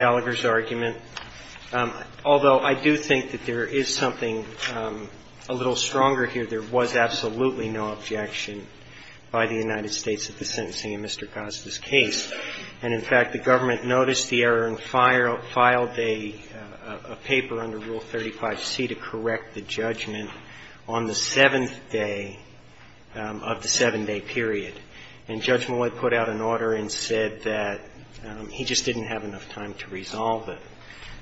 Gallagher's argument, although I do think that there is something a little stronger here. There was absolutely no objection by the United States at the sentencing of Mr. Gazda's case. And, in fact, the government noticed the error and filed a paper under Rule 35C to correct the judgment on the seventh day of the seven-day period. And Judge Malloy put out an order and said that he just didn't have enough time to resolve it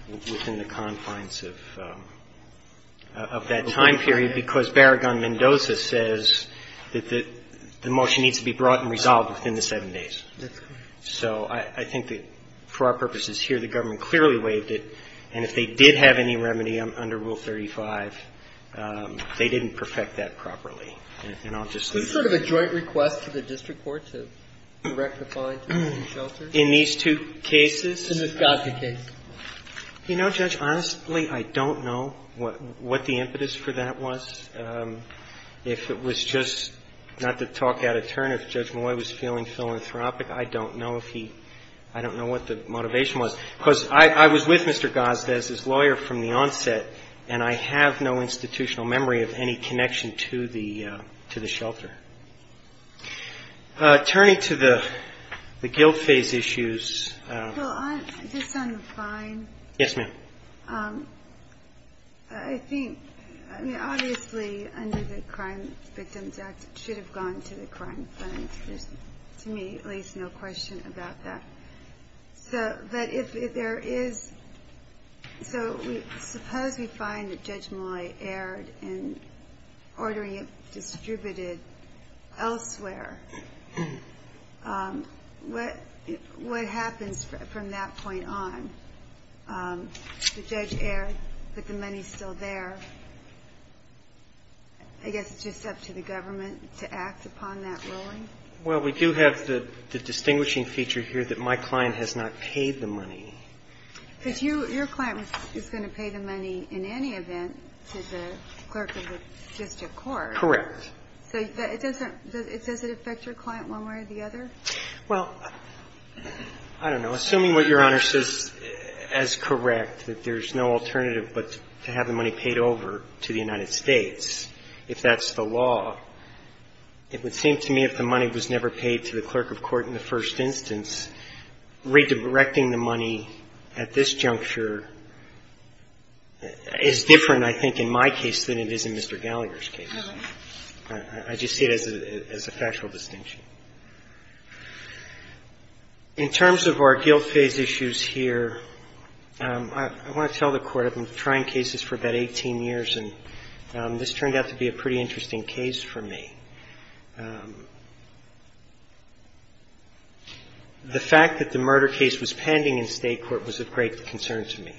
within the confines of that time period, because Barragan-Mendoza says that the motion needs to be brought and resolved within the seven days. So I think that, for our purposes here, the government clearly waived it. And if they did have any remedy under Rule 35, they didn't perfect that properly. And I'll just leave it at that. So you're saying that the government has a joint request to the district court to rectify the shelter? In these two cases? In the Gazda case. You know, Judge, honestly, I don't know what the impetus for that was. If it was just not to talk out of turn, if Judge Malloy was feeling philanthropic, I don't know if he – I don't know what the motivation was. Because I was with Mr. Gazda as his attorney. Turning to the guilt phase issues – Well, on – just on the fine? Yes, ma'am. I think – I mean, obviously, under the Crime Victims Act, it should have gone to the Crime Finance. There's, to me, at least no question about that. So that if there is – so we – suppose we find that Judge Malloy erred in ordering a distributed shelter elsewhere. What happens from that point on? The judge erred, but the money's still there. I guess it's just up to the government to act upon that ruling? Well, we do have the distinguishing feature here that my client has not paid the money. Because you – your client is going to pay the money in any event to the clerk of the district court. Correct. So it doesn't – does it affect your client one way or the other? Well, I don't know. Assuming what Your Honor says is correct, that there's no alternative but to have the money paid over to the United States, if that's the law, it would seem to me if the money was never paid to the clerk of court in the first instance, redirecting the money at this juncture is different, I think, in my case than it is in Mr. Gallagher's case. I just see it as a factual distinction. In terms of our guilt phase issues here, I want to tell the Court I've been trying cases for about 18 years, and this turned out to be a pretty interesting case for me. The fact that the murder case was pending in state court was of great concern to me.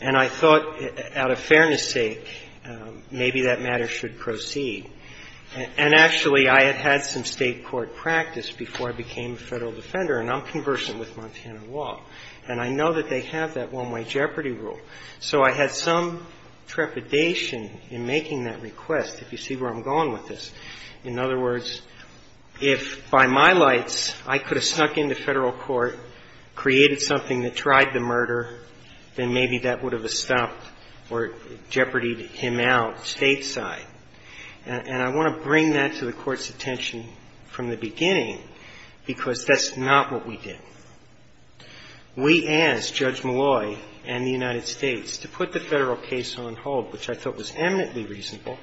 And I thought, out of fairness sake, maybe that matter should proceed. And actually, I had had some state court practice before I became a federal defender, and I'm conversant with Montana law. And I know that they have that one-way jeopardy rule. So I had some trepidation in making that request, if you see where I'm going with this. In other words, if by my lights I could have snuck into federal court, created something that tried the murder, then maybe that would have stopped or jeopardied him out stateside. And I want to bring that to the Court's attention from the beginning, because that's not what we did. We asked Judge Malloy and the United States to put the federal case on hold, which I thought was eminently reasonable,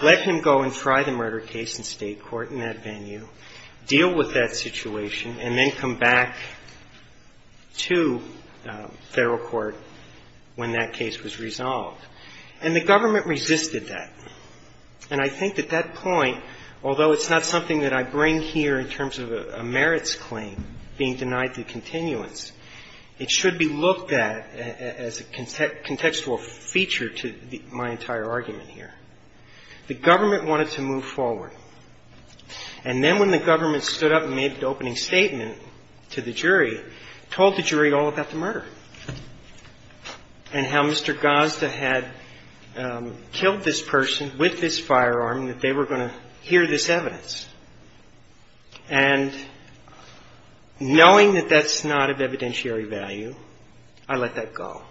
let him go and try the murder case in state court in that venue, deal with that situation, and then come back to federal court when that case was resolved. And the government resisted that. And I think at that point, although it's not something that I bring here in terms of a merits claim being denied the continuance, it should be looked at as a contextual feature to my entire argument here. The government wanted to move forward. And then when the government stood up and made the opening statement to the jury, told the jury all about the murder and how Mr. Gazda had killed this person with this firearm and that they were going to hear this evidence. And knowing that that's not of evidentiary value, I let that go.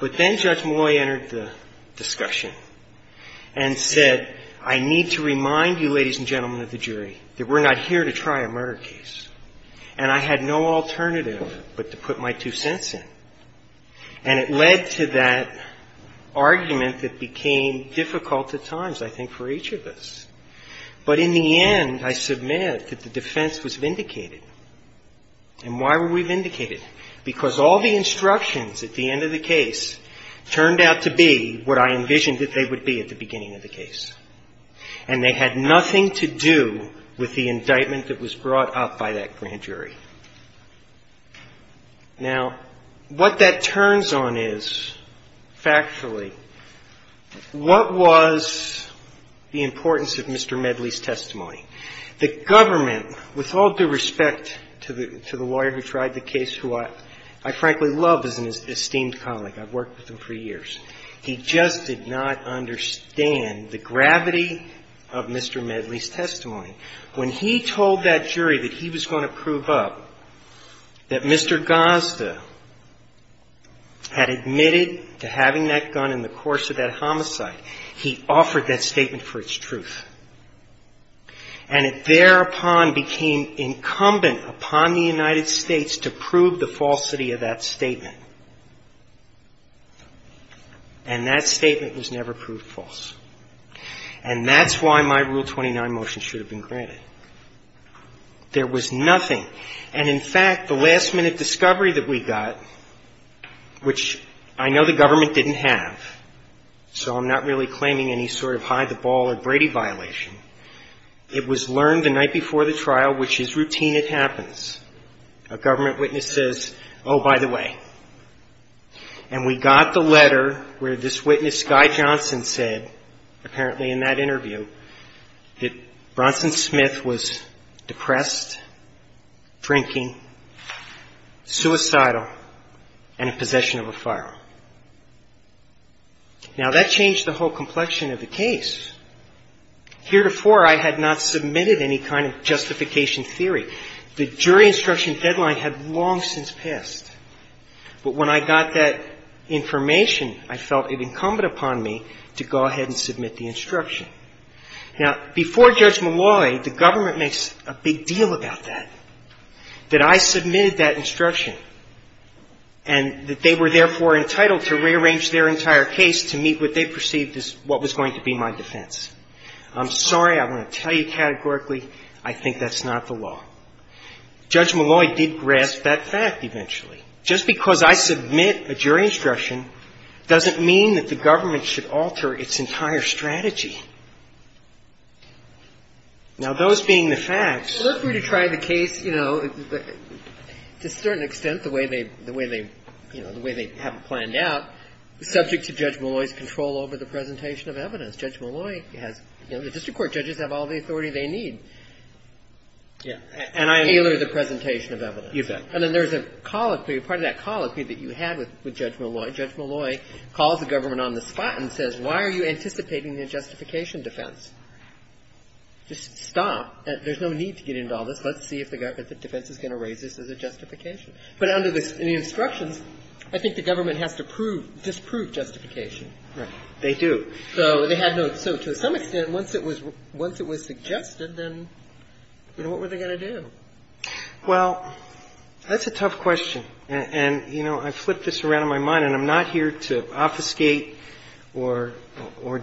But then Judge Malloy entered the discussion and said, I need to remind you, ladies and gentlemen of the jury, that we're not here to try a murder case. And I had no alternative but to put my two cents in. And it led to that argument that became difficult at times, I think, for each of us. But in the end, I submit that the defense was vindicated. And why were we vindicated? Because all the instructions at the end of the case turned out to be what I envisioned that they would be at the beginning of the case. And they had nothing to do with the indictment that was brought up by that grand jury. Now, what that turns on is, factually, what was the importance of Mr. Medley's testimony? The government, with all due respect to the lawyer who tried the case, who I frankly love as an esteemed colleague, I've worked with him for years, he just did not understand the gravity of Mr. Medley's testimony. When he told that jury that he was going to prove up that Mr. Gazda had admitted to having that gun in the course of that homicide, he offered that statement for its truth. And it thereupon became incumbent upon the United States to prove the falsity of that statement. And that statement was never proved false. And that's why my Rule 29 motion should have been granted. There was nothing. And, in fact, the last-minute discovery that we got, which I know the government didn't have, so I'm not really claiming any sort of hide-the-ball or Brady violation, it was learned the night before the trial, which is routine, it happens. A government witness says, oh, by the way. And we got the letter where this witness, Guy Johnson, said, apparently in that interview, that Bronson Smith was depressed, drinking, suicidal, and in possession of a firearm. Now, that changed the whole complexion of the case. Heretofore, I had not submitted any kind of justification theory. The jury instruction deadline had long since passed. But when I got that information, I felt it incumbent upon me to go ahead and submit the instruction. Now, before Judge Malloy, the government makes a big deal about that, that I submitted that instruction and that they were therefore entitled to rearrange their entire case to meet what they perceived as what was going to be my defense. I'm sorry. I want to tell you categorically, I think that's not the case. Well, it is. The government should alter its entire strategy. Now, those being the facts… Well, look, we try the case, you know, to a certain extent, the way they, you know, the way they have planned out, subject to Judge Malloy's control over the presentation of evidence. Judge Malloy has, you know, the district court judges have all the authority they need. Yeah. And tailor the presentation of evidence. You bet. And then there's a colloquy, part of that colloquy that you had with Judge Malloy. Judge Malloy calls the government on the spot and says, why are you anticipating a justification defense? Just stop. There's no need to get into all this. Let's see if the defense is going to raise this as a justification. But under the instructions, I think the government has to prove, disprove justification. Right. They do. So to some extent, once it was suggested, then, you know, what were they going to do? Well, that's a tough question. And, you know, I flipped this around in my mind, and I'm not here to obfuscate or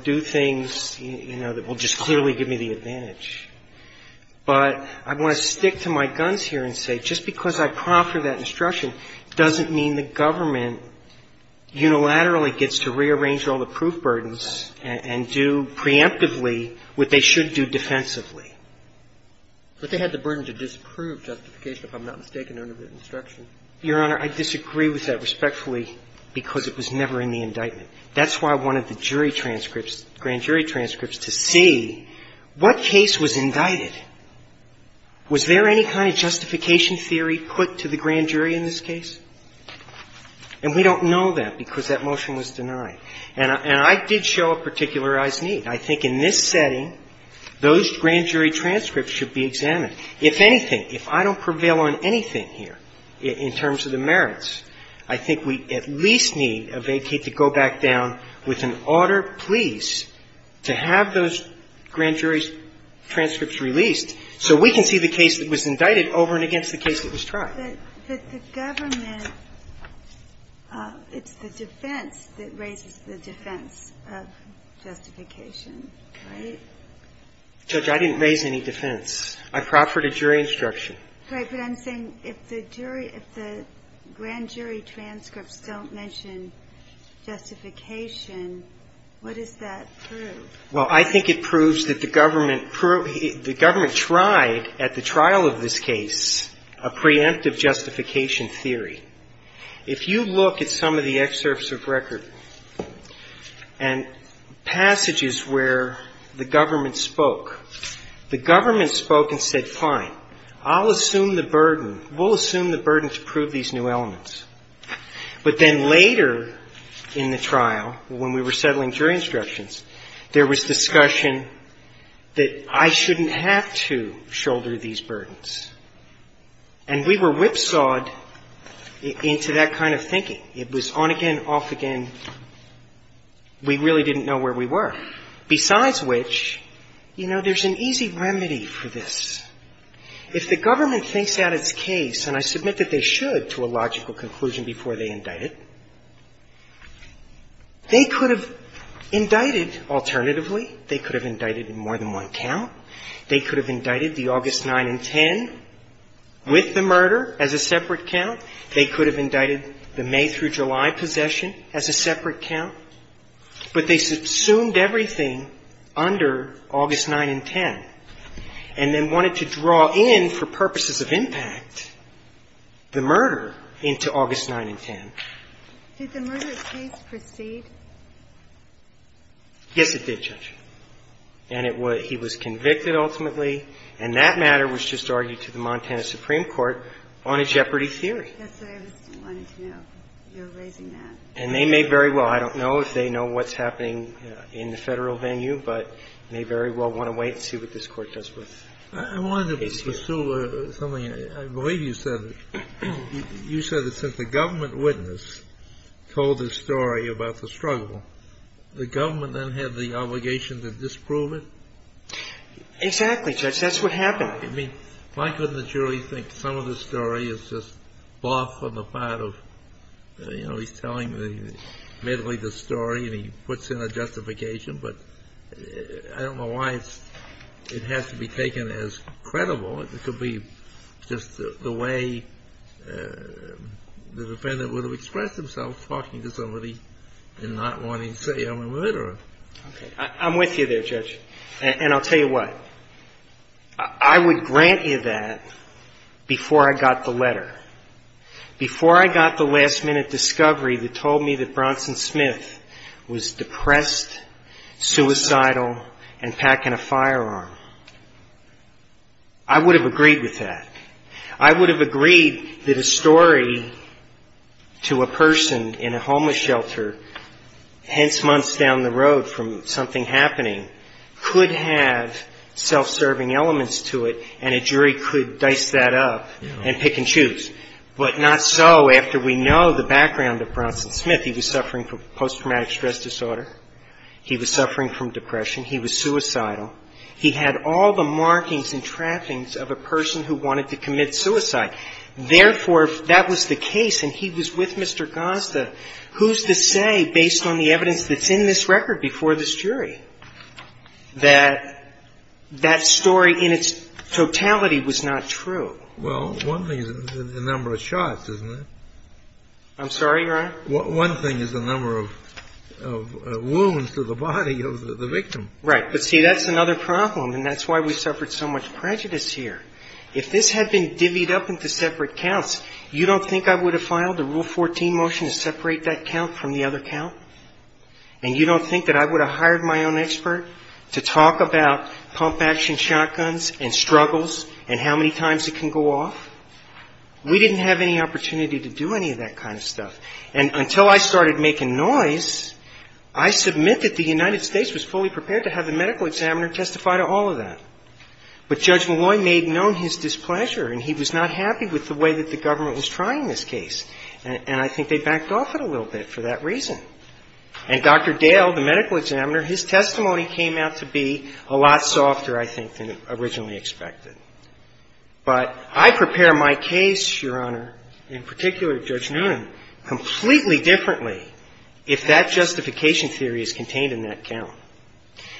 do things, you know, that will just clearly give me the advantage. But I want to stick to my guns here and say just because I prompted that instruction doesn't mean the government unilaterally gets to rearrange all the proof burdens and do preemptively what they should do defensively. But they had the burden to disprove justification, if I'm not mistaken, under the instruction. Your Honor, I disagree with that respectfully because it was never in the indictment. That's why I wanted the jury transcripts, grand jury transcripts, to see what case was And we don't know that because that motion was denied. And I did show a particularized need. I think in this setting, those grand jury transcripts should be examined. If anything, if I don't prevail on anything here in terms of the merits, I think we at least need a vacate to go back down with an order, please, to have those grand jury transcripts released so we can see the case that was indicted over and against the case that was tried. But the government, it's the defense that raises the defense of justification, right? Judge, I didn't raise any defense. I proffered a jury instruction. Right. But I'm saying if the jury, if the grand jury transcripts don't mention justification, what does that prove? Well, I think it proves that the government tried at the trial of this case a preemptive justification theory. If you look at some of the excerpts of record and passages where the government spoke, the government spoke and said, fine, I'll assume the burden, we'll assume the burden to prove these new elements. But then later in the trial, when we were settling jury instructions, there was discussion that I shouldn't have to shoulder these burdens. And we were whipsawed into that kind of thinking. It was on again, off again. We really didn't know where we were. Besides which, you know, there's an easy remedy for this. If the government thinks that it's case and I submit that they should to a logical conclusion before they indict it, they could have indicted, alternatively, they could have indicted in more than one count. They could have indicted the August 9 and 10 with the murder as a separate count. They could have indicted the May through July possession as a separate count. But they subsumed everything under August 9 and 10 and then wanted to draw in, for purposes of impact, the murder into August 9 and 10. Did the murder case proceed? Yes, it did, Judge. And it was he was convicted, ultimately. And that matter was just argued to the Montana Supreme Court on a jeopardy theory. Yes, I just wanted to know. You're raising that. And they may very well, I don't know if they know what's happening in the Federal venue, but may very well want to wait and see what this Court does with the case. I wanted to pursue something. I believe you said that since the government witness told the story about the struggle, the government then had the obligation to disprove it? Exactly, Judge. That's what happened. I mean, why couldn't the jury think some of the story is just bluff on the part of, you know, he's telling admittedly the story and he puts in a justification, but I don't know why it has to be taken as credible. It could be just the way the defendant would have expressed themselves talking to somebody and not wanting to say, I'm a murderer. Okay. I'm with you there, Judge. And I'll tell you what. I would grant you that before I got the letter, before I got the last-minute discovery that told me that Bronson Smith was depressed, suicidal, and packing a I would have agreed with that. I would have agreed that a story to a person in a homeless shelter, hence months down the road from something happening, could have self-serving elements to it and a jury could dice that up and pick and choose. But not so after we know the background of Bronson Smith. He was suffering from post-traumatic stress disorder. He was suffering from depression. He was suicidal. He had all the markings and trappings of a person who wanted to commit suicide. Therefore, if that was the case and he was with Mr. Gonsta, who's to say, based on the evidence that's in this record before this jury, that that story in its totality was not true? Well, one thing is the number of shots, isn't it? I'm sorry, Your Honor? One thing is the number of wounds to the body of the victim. Right. But see, that's another problem, and that's why we suffered so much prejudice here. If this had been divvied up into separate counts, you don't think I would have filed a Rule 14 motion to separate that count from the other count? And you don't think that I would have hired my own expert to talk about pump-action shotguns and struggles and how many times it can go off? We didn't have any opportunity to do any of that kind of stuff. And until I started making noise, I submit that the United States was fully prepared to have the medical examiner testify to all of that. But Judge Malloy made known his displeasure, and he was not happy with the way that the government was trying this case. And I think they backed off it a little bit for that reason. And Dr. Dale, the medical examiner, his testimony came out to be a lot softer, I think, than originally expected. But I prepare my case, Your Honor, in particular Judge Noonan, completely differently if that justification theory is contained in that count.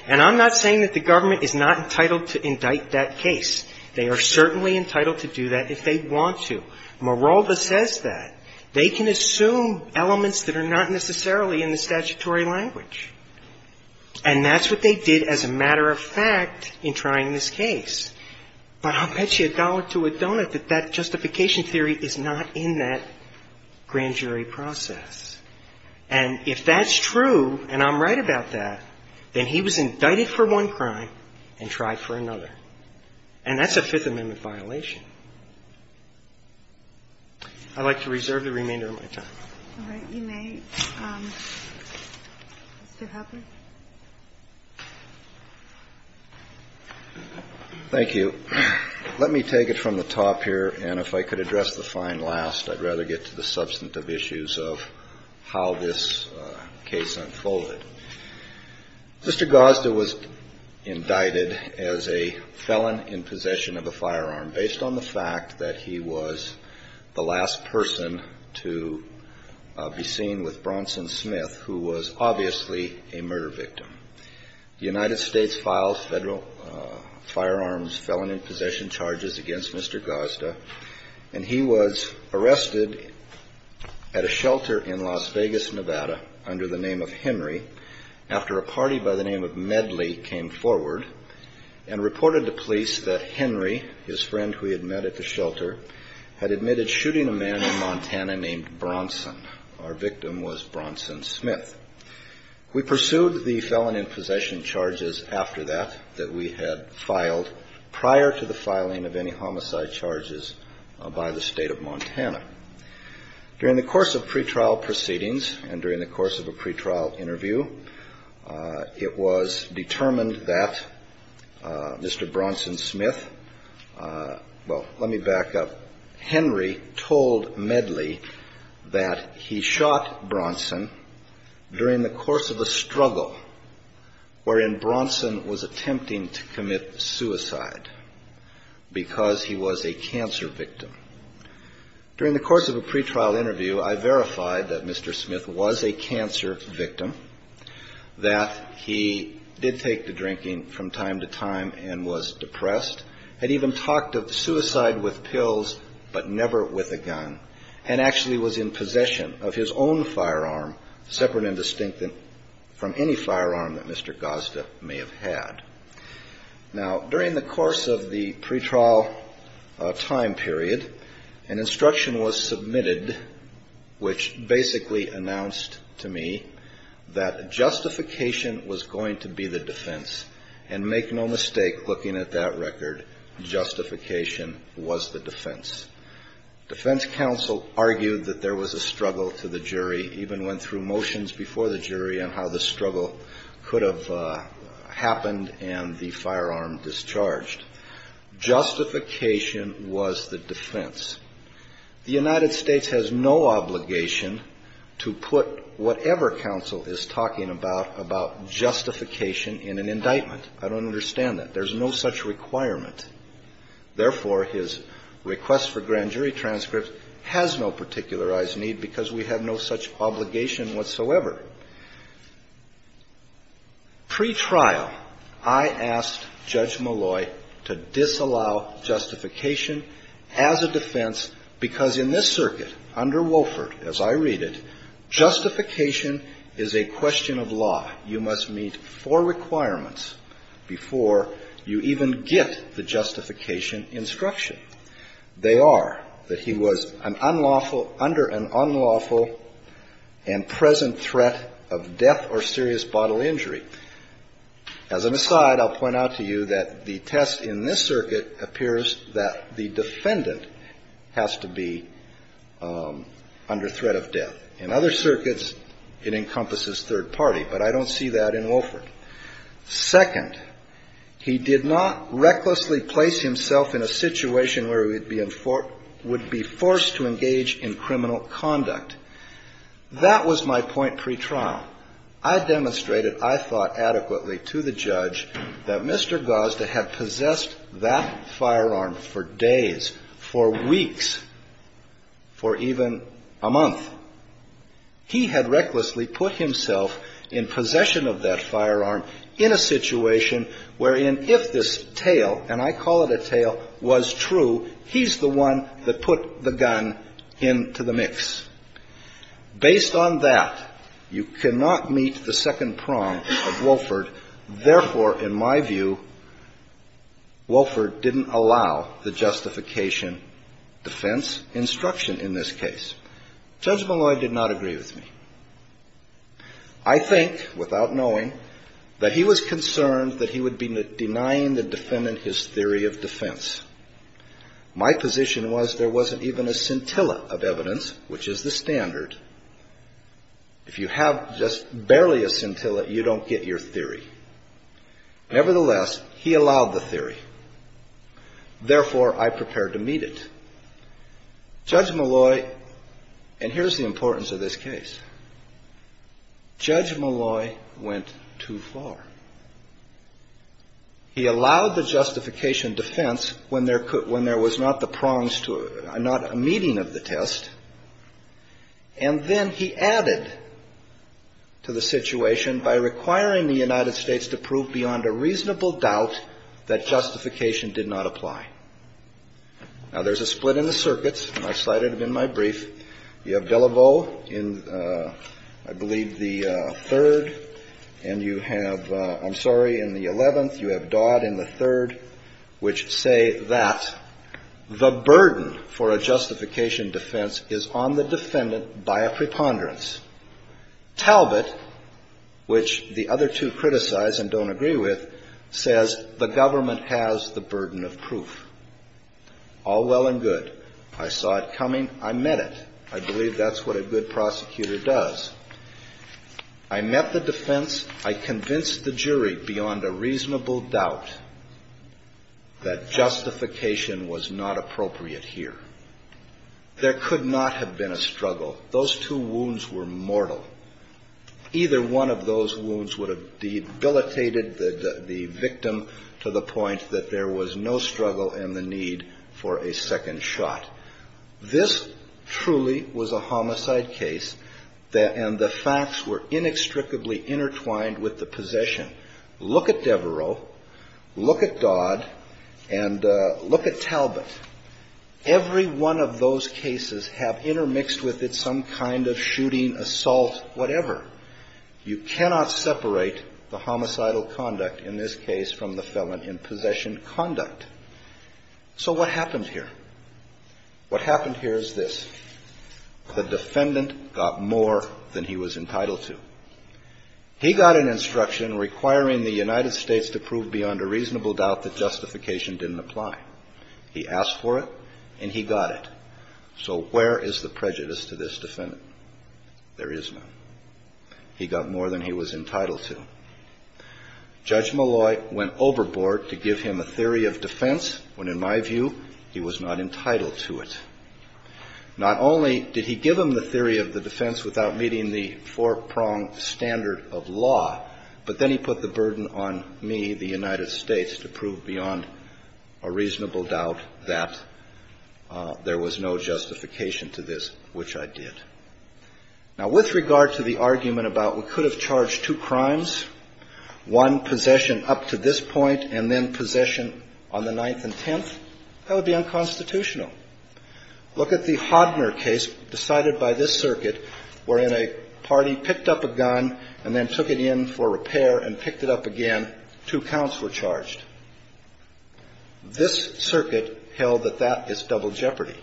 And I'm not saying that the government is not entitled to indict that case. They are certainly entitled to do that if they want to. Marolda says that. They can assume elements that are not necessarily in the statutory language. And that's what they did as a matter of fact in trying this case. But I'll bet you a dollar to a donut that that justification theory is not in that grand jury process. And if that's true, and I'm right about that, then he was indicted for one crime and tried for another. And that's a Fifth Amendment violation. I'd like to reserve the remainder of my time. All right. You may, Mr. Hubbard. Thank you. Let me take it from the top here. And if I could address the fine last, I'd rather get to the substantive issues of how this case unfolded. Mr. Gosda was indicted as a felon in possession of a firearm based on the fact that he was the last person to be seen with Bronson Smith, who was obviously a murder victim. The United States filed federal firearms felon in possession charges against Mr. Gosda, and he was arrested at a shelter in Las Vegas, Nevada, under the name of Henry, after a party by the name of Medley came forward and reported to police that Henry, his friend who he had met at the shelter, had admitted shooting a man in Montana named Bronson. Our victim was Bronson Smith. We pursued the felon in possession charges after that that we had filed prior to the filing of any homicide charges by the state of Montana. During the course of pretrial proceedings and during the course of a pretrial interview, it was determined that Mr. Bronson Smith, well, let me back up. Henry told Medley that he shot Bronson during the course of a struggle wherein Bronson was attempting to commit suicide because he was a cancer victim. During the course of a pretrial interview, I verified that Mr. Smith was a cancer victim, that he did take to drinking from time to time and was depressed, had even talked of suicide with pills, but never with a gun, and actually was in possession of his own firearm, separate and distinct from any firearm that Mr. Gosda may have had. Now, during the course of the pretrial time period, an instruction was submitted, which basically announced to me that justification was going to be the defense. And make no mistake, looking at that record, justification was the defense. Defense counsel argued that there was a struggle to the jury, even went through motions before the jury on how the struggle could have happened and the firearm discharged. Justification was the defense. The United States has no obligation to put whatever counsel is talking about about justification in an indictment. I don't understand that. There's no such requirement. Therefore, his request for grand jury transcript has no particularized need because we have no such obligation whatsoever. Pretrial, I asked Judge Malloy to disallow justification as a defense, because in this circuit, under Wofford, as I read it, justification is a question of law. You must meet four requirements before you even get the justification instruction. They are that he was an unlawful, under an unlawful and present threat of death or serious bodily injury. As an aside, I'll point out to you that the test in this circuit appears that the defendant has to be under threat of death. In other circuits, it encompasses third party. But I don't see that in Wofford. Second, he did not recklessly place himself in a situation where he would be forced to engage in criminal conduct. That was my point pretrial. Now, I demonstrated, I thought adequately to the judge, that Mr. Gosda had possessed that firearm for days, for weeks, for even a month. He had recklessly put himself in possession of that firearm in a situation wherein if this tale, and I call it a tale, was true, he's the one that put the gun into the mix. Based on that, you cannot meet the second prong of Wofford. Therefore, in my view, Wofford didn't allow the justification defense instruction in this case. Judge Malloy did not agree with me. I think, without knowing, that he was concerned that he would be denying the defendant his theory of defense. My position was there wasn't even a scintilla of evidence, which is the standard. If you have just barely a scintilla, you don't get your theory. Nevertheless, he allowed the theory. Therefore, I prepared to meet it. Judge Malloy, and here's the importance of this case, Judge Malloy went too far. He allowed the justification defense when there was not the prongs to it, not a meeting of the test. And then he added to the situation by requiring the United States to prove beyond a reasonable doubt that justification did not apply. Now, there's a split in the circuits, and I cited them in my brief. You have Delevaux in, I believe, the third. And you have, I'm sorry, in the 11th, you have Dodd in the third, which say that the burden for a justification defense is on the defendant by a preponderance. Talbot, which the other two criticize and don't agree with, says the government has the burden of proof. All well and good. I saw it coming. I met it. I believe that's what a good prosecutor does. I met the defense. I convinced the jury beyond a reasonable doubt that justification was not appropriate here. There could not have been a struggle. Those two wounds were mortal. Either one of those wounds would have debilitated the victim to the point that there was no struggle and the need for a second shot. This truly was a homicide case, and the facts were inextricably intertwined with the possession. Look at Devereaux. Look at Dodd. And look at Talbot. Every one of those cases have intermixed with it some kind of shooting, assault, whatever. You cannot separate the homicidal conduct in this case from the felon in possession conduct. So what happened here? What happened here is this. The defendant got more than he was entitled to. He got an instruction requiring the United States to prove beyond a reasonable doubt that justification didn't apply. He asked for it, and he got it. So where is the prejudice to this defendant? There is none. He got more than he was entitled to. Judge Malloy went overboard to give him a theory of defense when, in my view, he was not entitled to it. Not only did he give him the theory of the defense without meeting the four-pronged standard of law, but then he put the burden on me, the United States, to prove beyond a reasonable doubt that there was no justification to this, which I did. Now, with regard to the argument about we could have charged two crimes, one possession up to this point and then possession on the 9th and 10th, that would be unconstitutional. Look at the Hodner case decided by this circuit wherein a party picked up a gun and then took it in for repair and picked it up again. Two counts were charged. This circuit held that that is double jeopardy.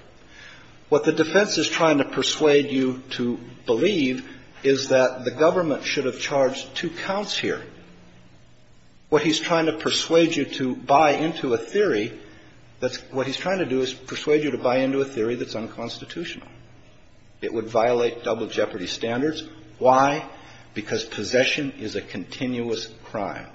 What the defense is trying to persuade you to believe is that the government should have charged two counts here. What he's trying to persuade you to buy into a theory that's unconstitutional. It would violate double jeopardy standards. Why? Because possession is a continuous crime.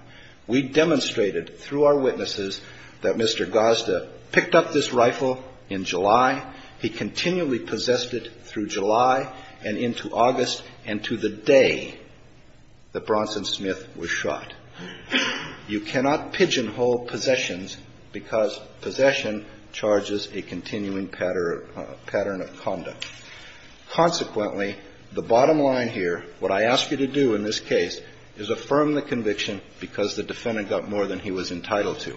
We demonstrated through our witnesses that Mr. Gazda picked up this rifle in July. He continually possessed it through July and into August and to the day that Bronson Smith was charged. You cannot pigeonhole possessions because possession charges a continuing pattern of conduct. Consequently, the bottom line here, what I ask you to do in this case, is affirm the conviction because the defendant got more than he was entitled to.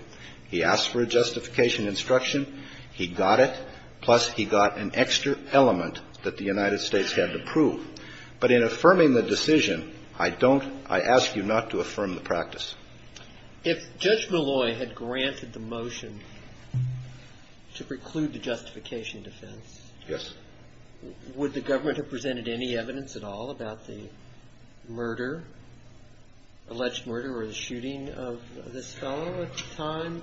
He asked for a justification instruction. He got it. Plus, he got an extra element that the United States had to prove. But in affirming the decision, I don't – I ask you not to affirm the practice. If Judge Malloy had granted the motion to preclude the justification defense. Yes. Would the government have presented any evidence at all about the murder, alleged murder or the shooting of this fellow at the time?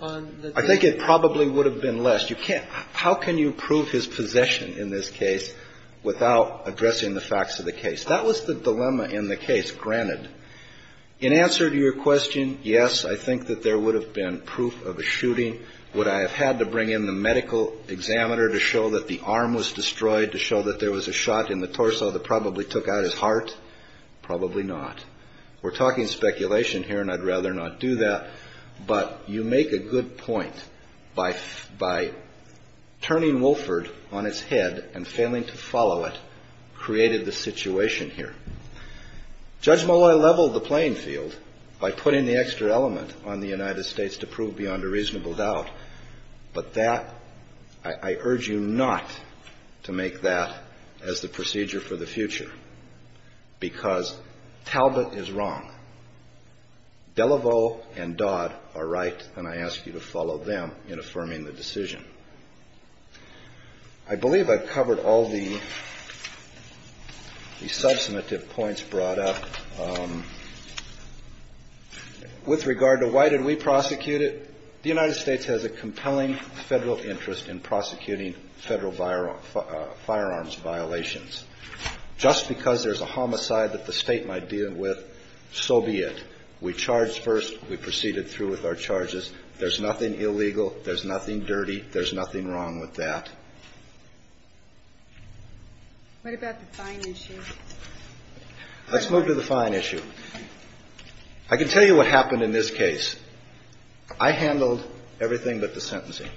I think it probably would have been less. You can't – how can you prove his possession in this case without addressing the facts of the case? That was the dilemma in the case, granted. In answer to your question, yes, I think that there would have been proof of a shooting. Would I have had to bring in the medical examiner to show that the arm was destroyed, to show that there was a shot in the torso that probably took out his heart? Probably not. We're talking speculation here, and I'd rather not do that. But you make a good point by turning Wolford on its head and failing to follow it created the situation here. Judge Malloy leveled the playing field by putting the extra element on the United States to prove beyond a reasonable doubt. But that – I urge you not to make that as the procedure for the future. Because Talbot is wrong. Delevaux and Dodd are right, and I ask you to follow them in affirming the decision. I believe I've covered all the substantive points brought up. With regard to why did we prosecute it, the United States has a compelling federal interest in prosecuting federal firearms violations. Just because there's a homicide that the State might deal with, so be it. We charged first. We proceeded through with our charges. There's nothing illegal. There's nothing dirty. There's nothing wrong with that. What about the fine issue? Let's move to the fine issue. I can tell you what happened in this case. I handled everything but the sentencing,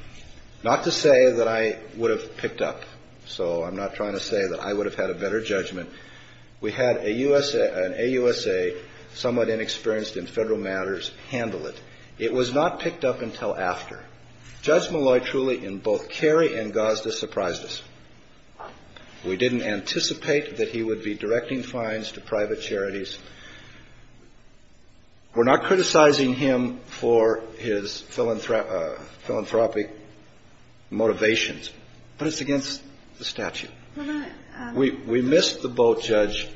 not to say that I would have picked up. So I'm not trying to say that I would have had a better judgment. We had an AUSA, somewhat inexperienced in federal matters, handle it. It was not picked up until after. Judge Malloy, truly, in both Kerry and Gosda, surprised us. We didn't anticipate that he would be directing fines to private charities. We're not criticizing him for his philanthropic motivations. But it's against the statute. We missed the boat, Judge,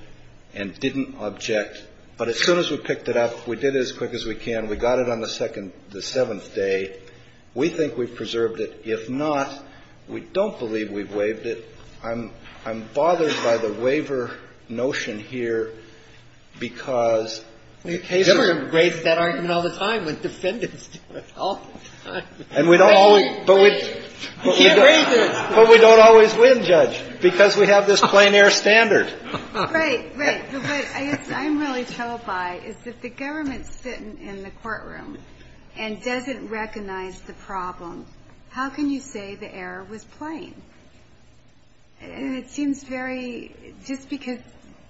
and didn't object. But as soon as we picked it up, we did it as quick as we can. We got it on the second – the seventh day. We think we've preserved it. If not, we don't believe we've waived it. I'm bothered by the waiver notion here because the case is – Ginsburg raised that argument all the time with defendants, all the time. And we don't always – We can't raise it. But we don't always win, Judge, because we have this plain air standard. Right, right. But what I'm really told by is that the government's sitting in the courtroom and doesn't recognize the problem. How can you say the error was plain? And it seems very – just because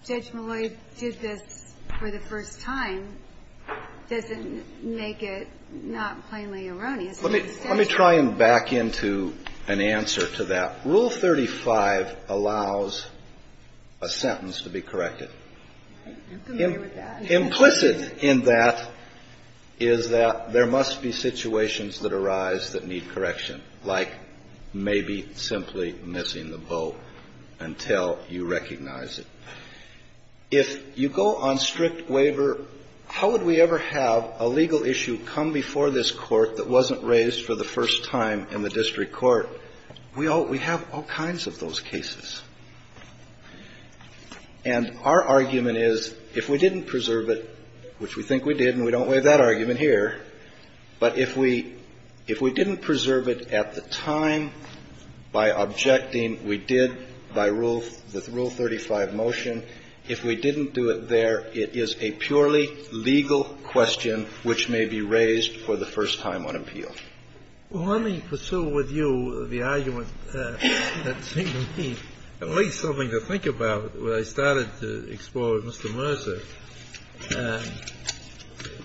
Judge Malloy did this for the first time doesn't make it not plainly erroneous. Let me try and back into an answer to that. Rule 35 allows a sentence to be corrected. Implicit in that is that there must be situations that arise that need correction, like maybe simply missing the boat until you recognize it. If you go on strict waiver, how would we ever have a legal issue come before this court that wasn't raised for the first time in the district court? We have all kinds of those cases. And our argument is if we didn't preserve it, which we think we did, and we don't waive that argument here, but if we didn't preserve it at the time by objecting we did by rule – the Rule 35 motion, if we didn't do it there, it is a purely legal question which may be raised for the first time on appeal. Well, let me pursue with you the argument that seemed to me at least something to think about when I started to explore with Mr. Mercer.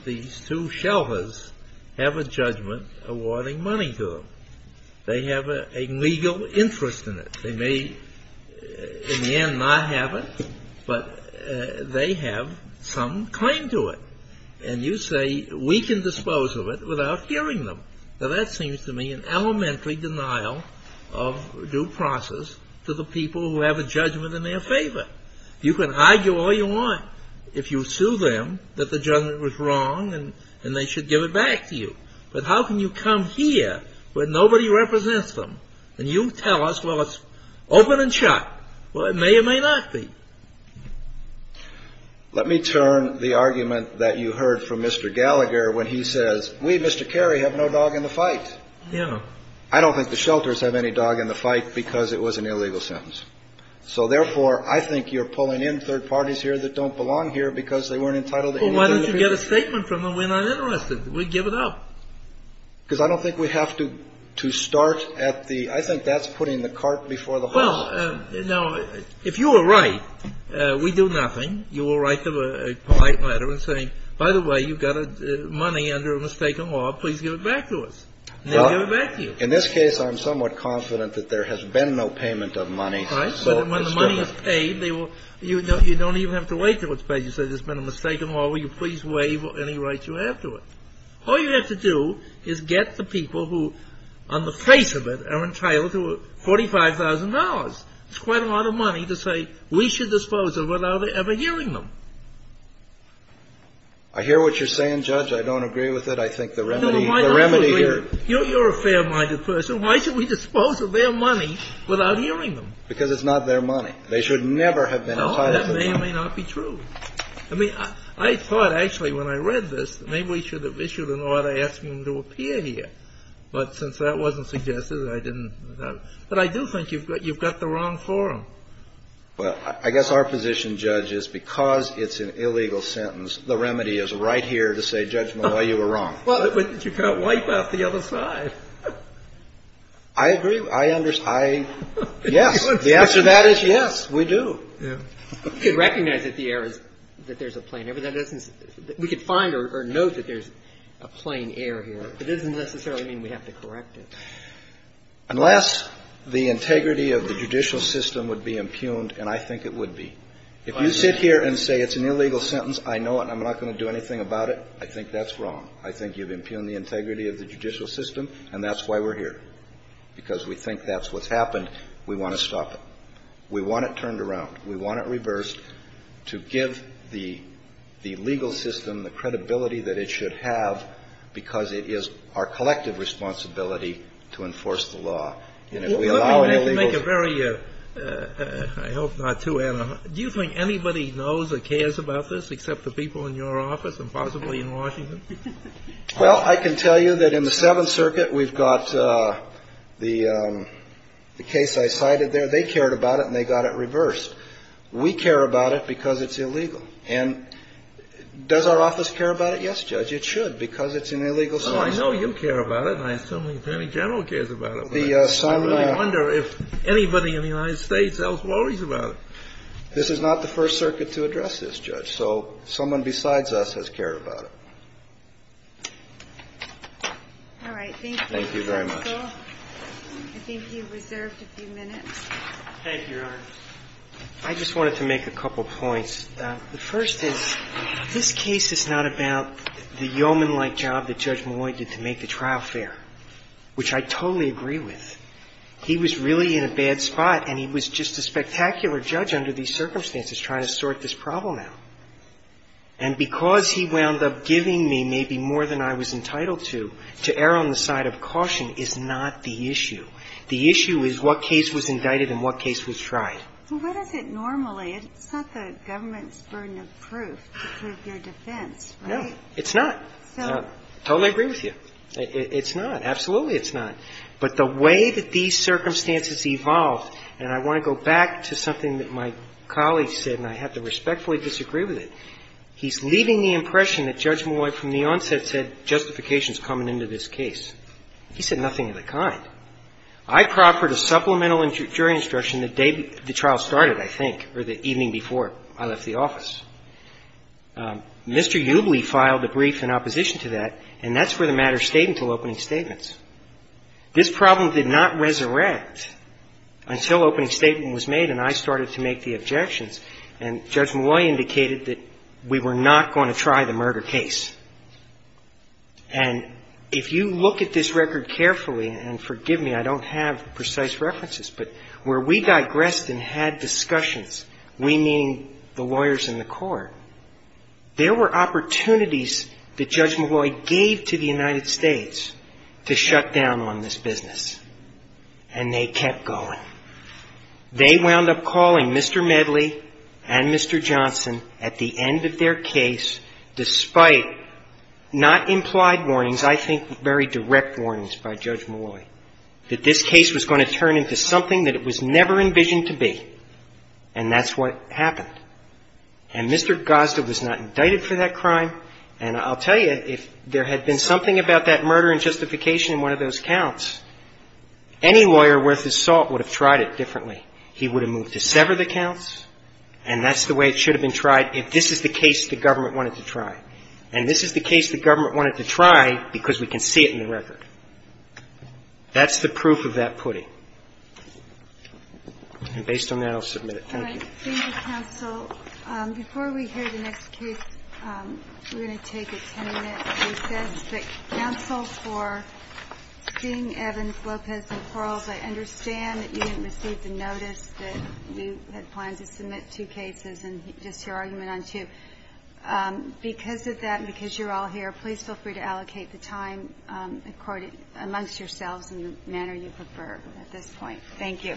These two shelters have a judgment awarding money to them. They have a legal interest in it. They may in the end not have it, but they have some claim to it. And you say we can dispose of it without hearing them. Now that seems to me an elementary denial of due process to the people who have a judgment in their favor. You can argue all you want if you sue them that the judgment was wrong and they should give it back to you. But how can you come here where nobody represents them and you tell us, well, it's open and shut. Well, it may or may not be. Let me turn the argument that you heard from Mr. Gallagher when he says, we, Mr. Carey, have no dog in the fight. Yeah. I don't think the shelters have any dog in the fight because it was an illegal sentence. So, therefore, I think you're pulling in third parties here that don't belong here because they weren't entitled to anything. Well, why don't you get a statement from them? We're not interested. We'd give it up. Because I don't think we have to start at the – I think that's putting the cart before the horse. Well, now, if you were right, we do nothing. You will write them a polite letter saying, by the way, you've got money under a mistaken law. Please give it back to us. And they'll give it back to you. In this case, I'm somewhat confident that there has been no payment of money. Right. So when the money is paid, they will – you don't even have to wait till it's paid. You say there's been a mistaken law. Will you please waive any rights you have to it? All you have to do is get the people who, on the face of it, are entitled to $45,000. It's quite a lot of money to say, we should dispose of it without ever hearing them. I hear what you're saying, Judge. I don't agree with it. I think the remedy here – No, no, why not? You're a fair-minded person. Why should we dispose of their money without hearing them? Because it's not their money. They should never have been entitled to it. No, that may or may not be true. I mean, I thought, actually, when I read this, maybe we should have issued an order asking them to appear here. But since that wasn't suggested, I didn't. But I do think you've got the wrong forum. Well, I guess our position, Judge, is because it's an illegal sentence, the remedy is right here to say, Judge, well, you were wrong. But you can't wipe out the other side. I agree. I understand. Yes. The answer to that is yes, we do. You could recognize that the error is that there's a plain error. That isn't – we could find or note that there's a plain error here. It doesn't necessarily mean we have to correct it. Unless the integrity of the judicial system would be impugned, and I think it would be. If you sit here and say it's an illegal sentence, I know it, and I'm not going to do anything about it, I think that's wrong. I think you've impugned the integrity of the judicial system, and that's why we're here. Because we think that's what's happened. We want to stop it. We want it turned around. We want it reversed to give the legal system the credibility that it should have, because it is our collective responsibility to enforce the law. And if we allow illegals – Let me make a very – I hope not too – do you think anybody knows or cares about this except the people in your office and possibly in Washington? Well, I can tell you that in the Seventh Circuit we've got the case I cited there. They cared about it, and they got it reversed. We care about it because it's illegal. And does our office care about it? Yes, Judge, it should, because it's an illegal sentence. Well, I know you care about it, and I assume the Attorney General cares about it, but I wonder if anybody in the United States else worries about it. This is not the First Circuit to address this, Judge. So someone besides us has cared about it. All right. Thank you, counsel. I think you've reserved a few minutes. Thank you, Your Honor. I just wanted to make a couple points. The first is this case is not about the yeoman-like job that Judge Malloy did to make the trial fair, which I totally agree with. He was really in a bad spot, and he was just a spectacular judge under these circumstances trying to sort this problem out. And because he wound up giving me maybe more than I was entitled to, to err on the side of caution is not the issue. The issue is what case was indicted and what case was tried. Well, what is it normally? It's not the government's burden of proof to prove your defense, right? No, it's not. I totally agree with you. It's not. Absolutely it's not. But the way that these circumstances evolved, and I want to go back to something that my colleague said, and I have to respectfully disagree with it. He's leaving the impression that Judge Malloy from the onset said justification is coming into this case. He said nothing of the kind. I proffered a supplemental jury instruction the day the trial started, I think, or the evening before I left the office. Mr. Ubley filed a brief in opposition to that, and that's where the matter stayed until opening statements. This problem did not resurrect until opening statement was made and I started to make the objections, and Judge Malloy indicated that we were not going to try the murder case, and if you look at this record carefully, and forgive me, I don't have precise references, but where we digressed and had discussions, we meaning the lawyers in the court, there were opportunities that Judge Malloy gave to the United States to shut down on this business, and they kept going. They wound up calling Mr. Medley and Mr. Johnson at the end of their case, despite not implied warnings, I think very direct warnings by Judge Malloy, that this case was going to turn into something that it was never envisioned to be, and that's what happened. And Mr. Gosda was not indicted for that crime, and I'll tell you, if there had been something about that murder and justification in one of those counts, any lawyer worth his salt would have tried it differently. He would have moved to sever the counts, and that's the way it should have been tried if this is the case the government wanted to try. And this is the case the government wanted to try because we can see it in the record. That's the proof of that pudding. And based on that, I'll submit it. Thank you. All right. Thank you, counsel. Before we hear the next case, we're going to take a 10-minute recess. But counsel, for seeing Evans, Lopez, and Quarles, I understand that you didn't receive the notice that you had planned to submit two cases and just your argument on two. Because of that and because you're all here, please feel free to allocate the time amongst yourselves in the manner you prefer at this point. Thank you.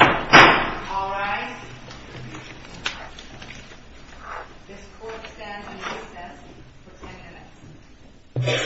All rise. This court stands on recess for 10 minutes. 10 minutes.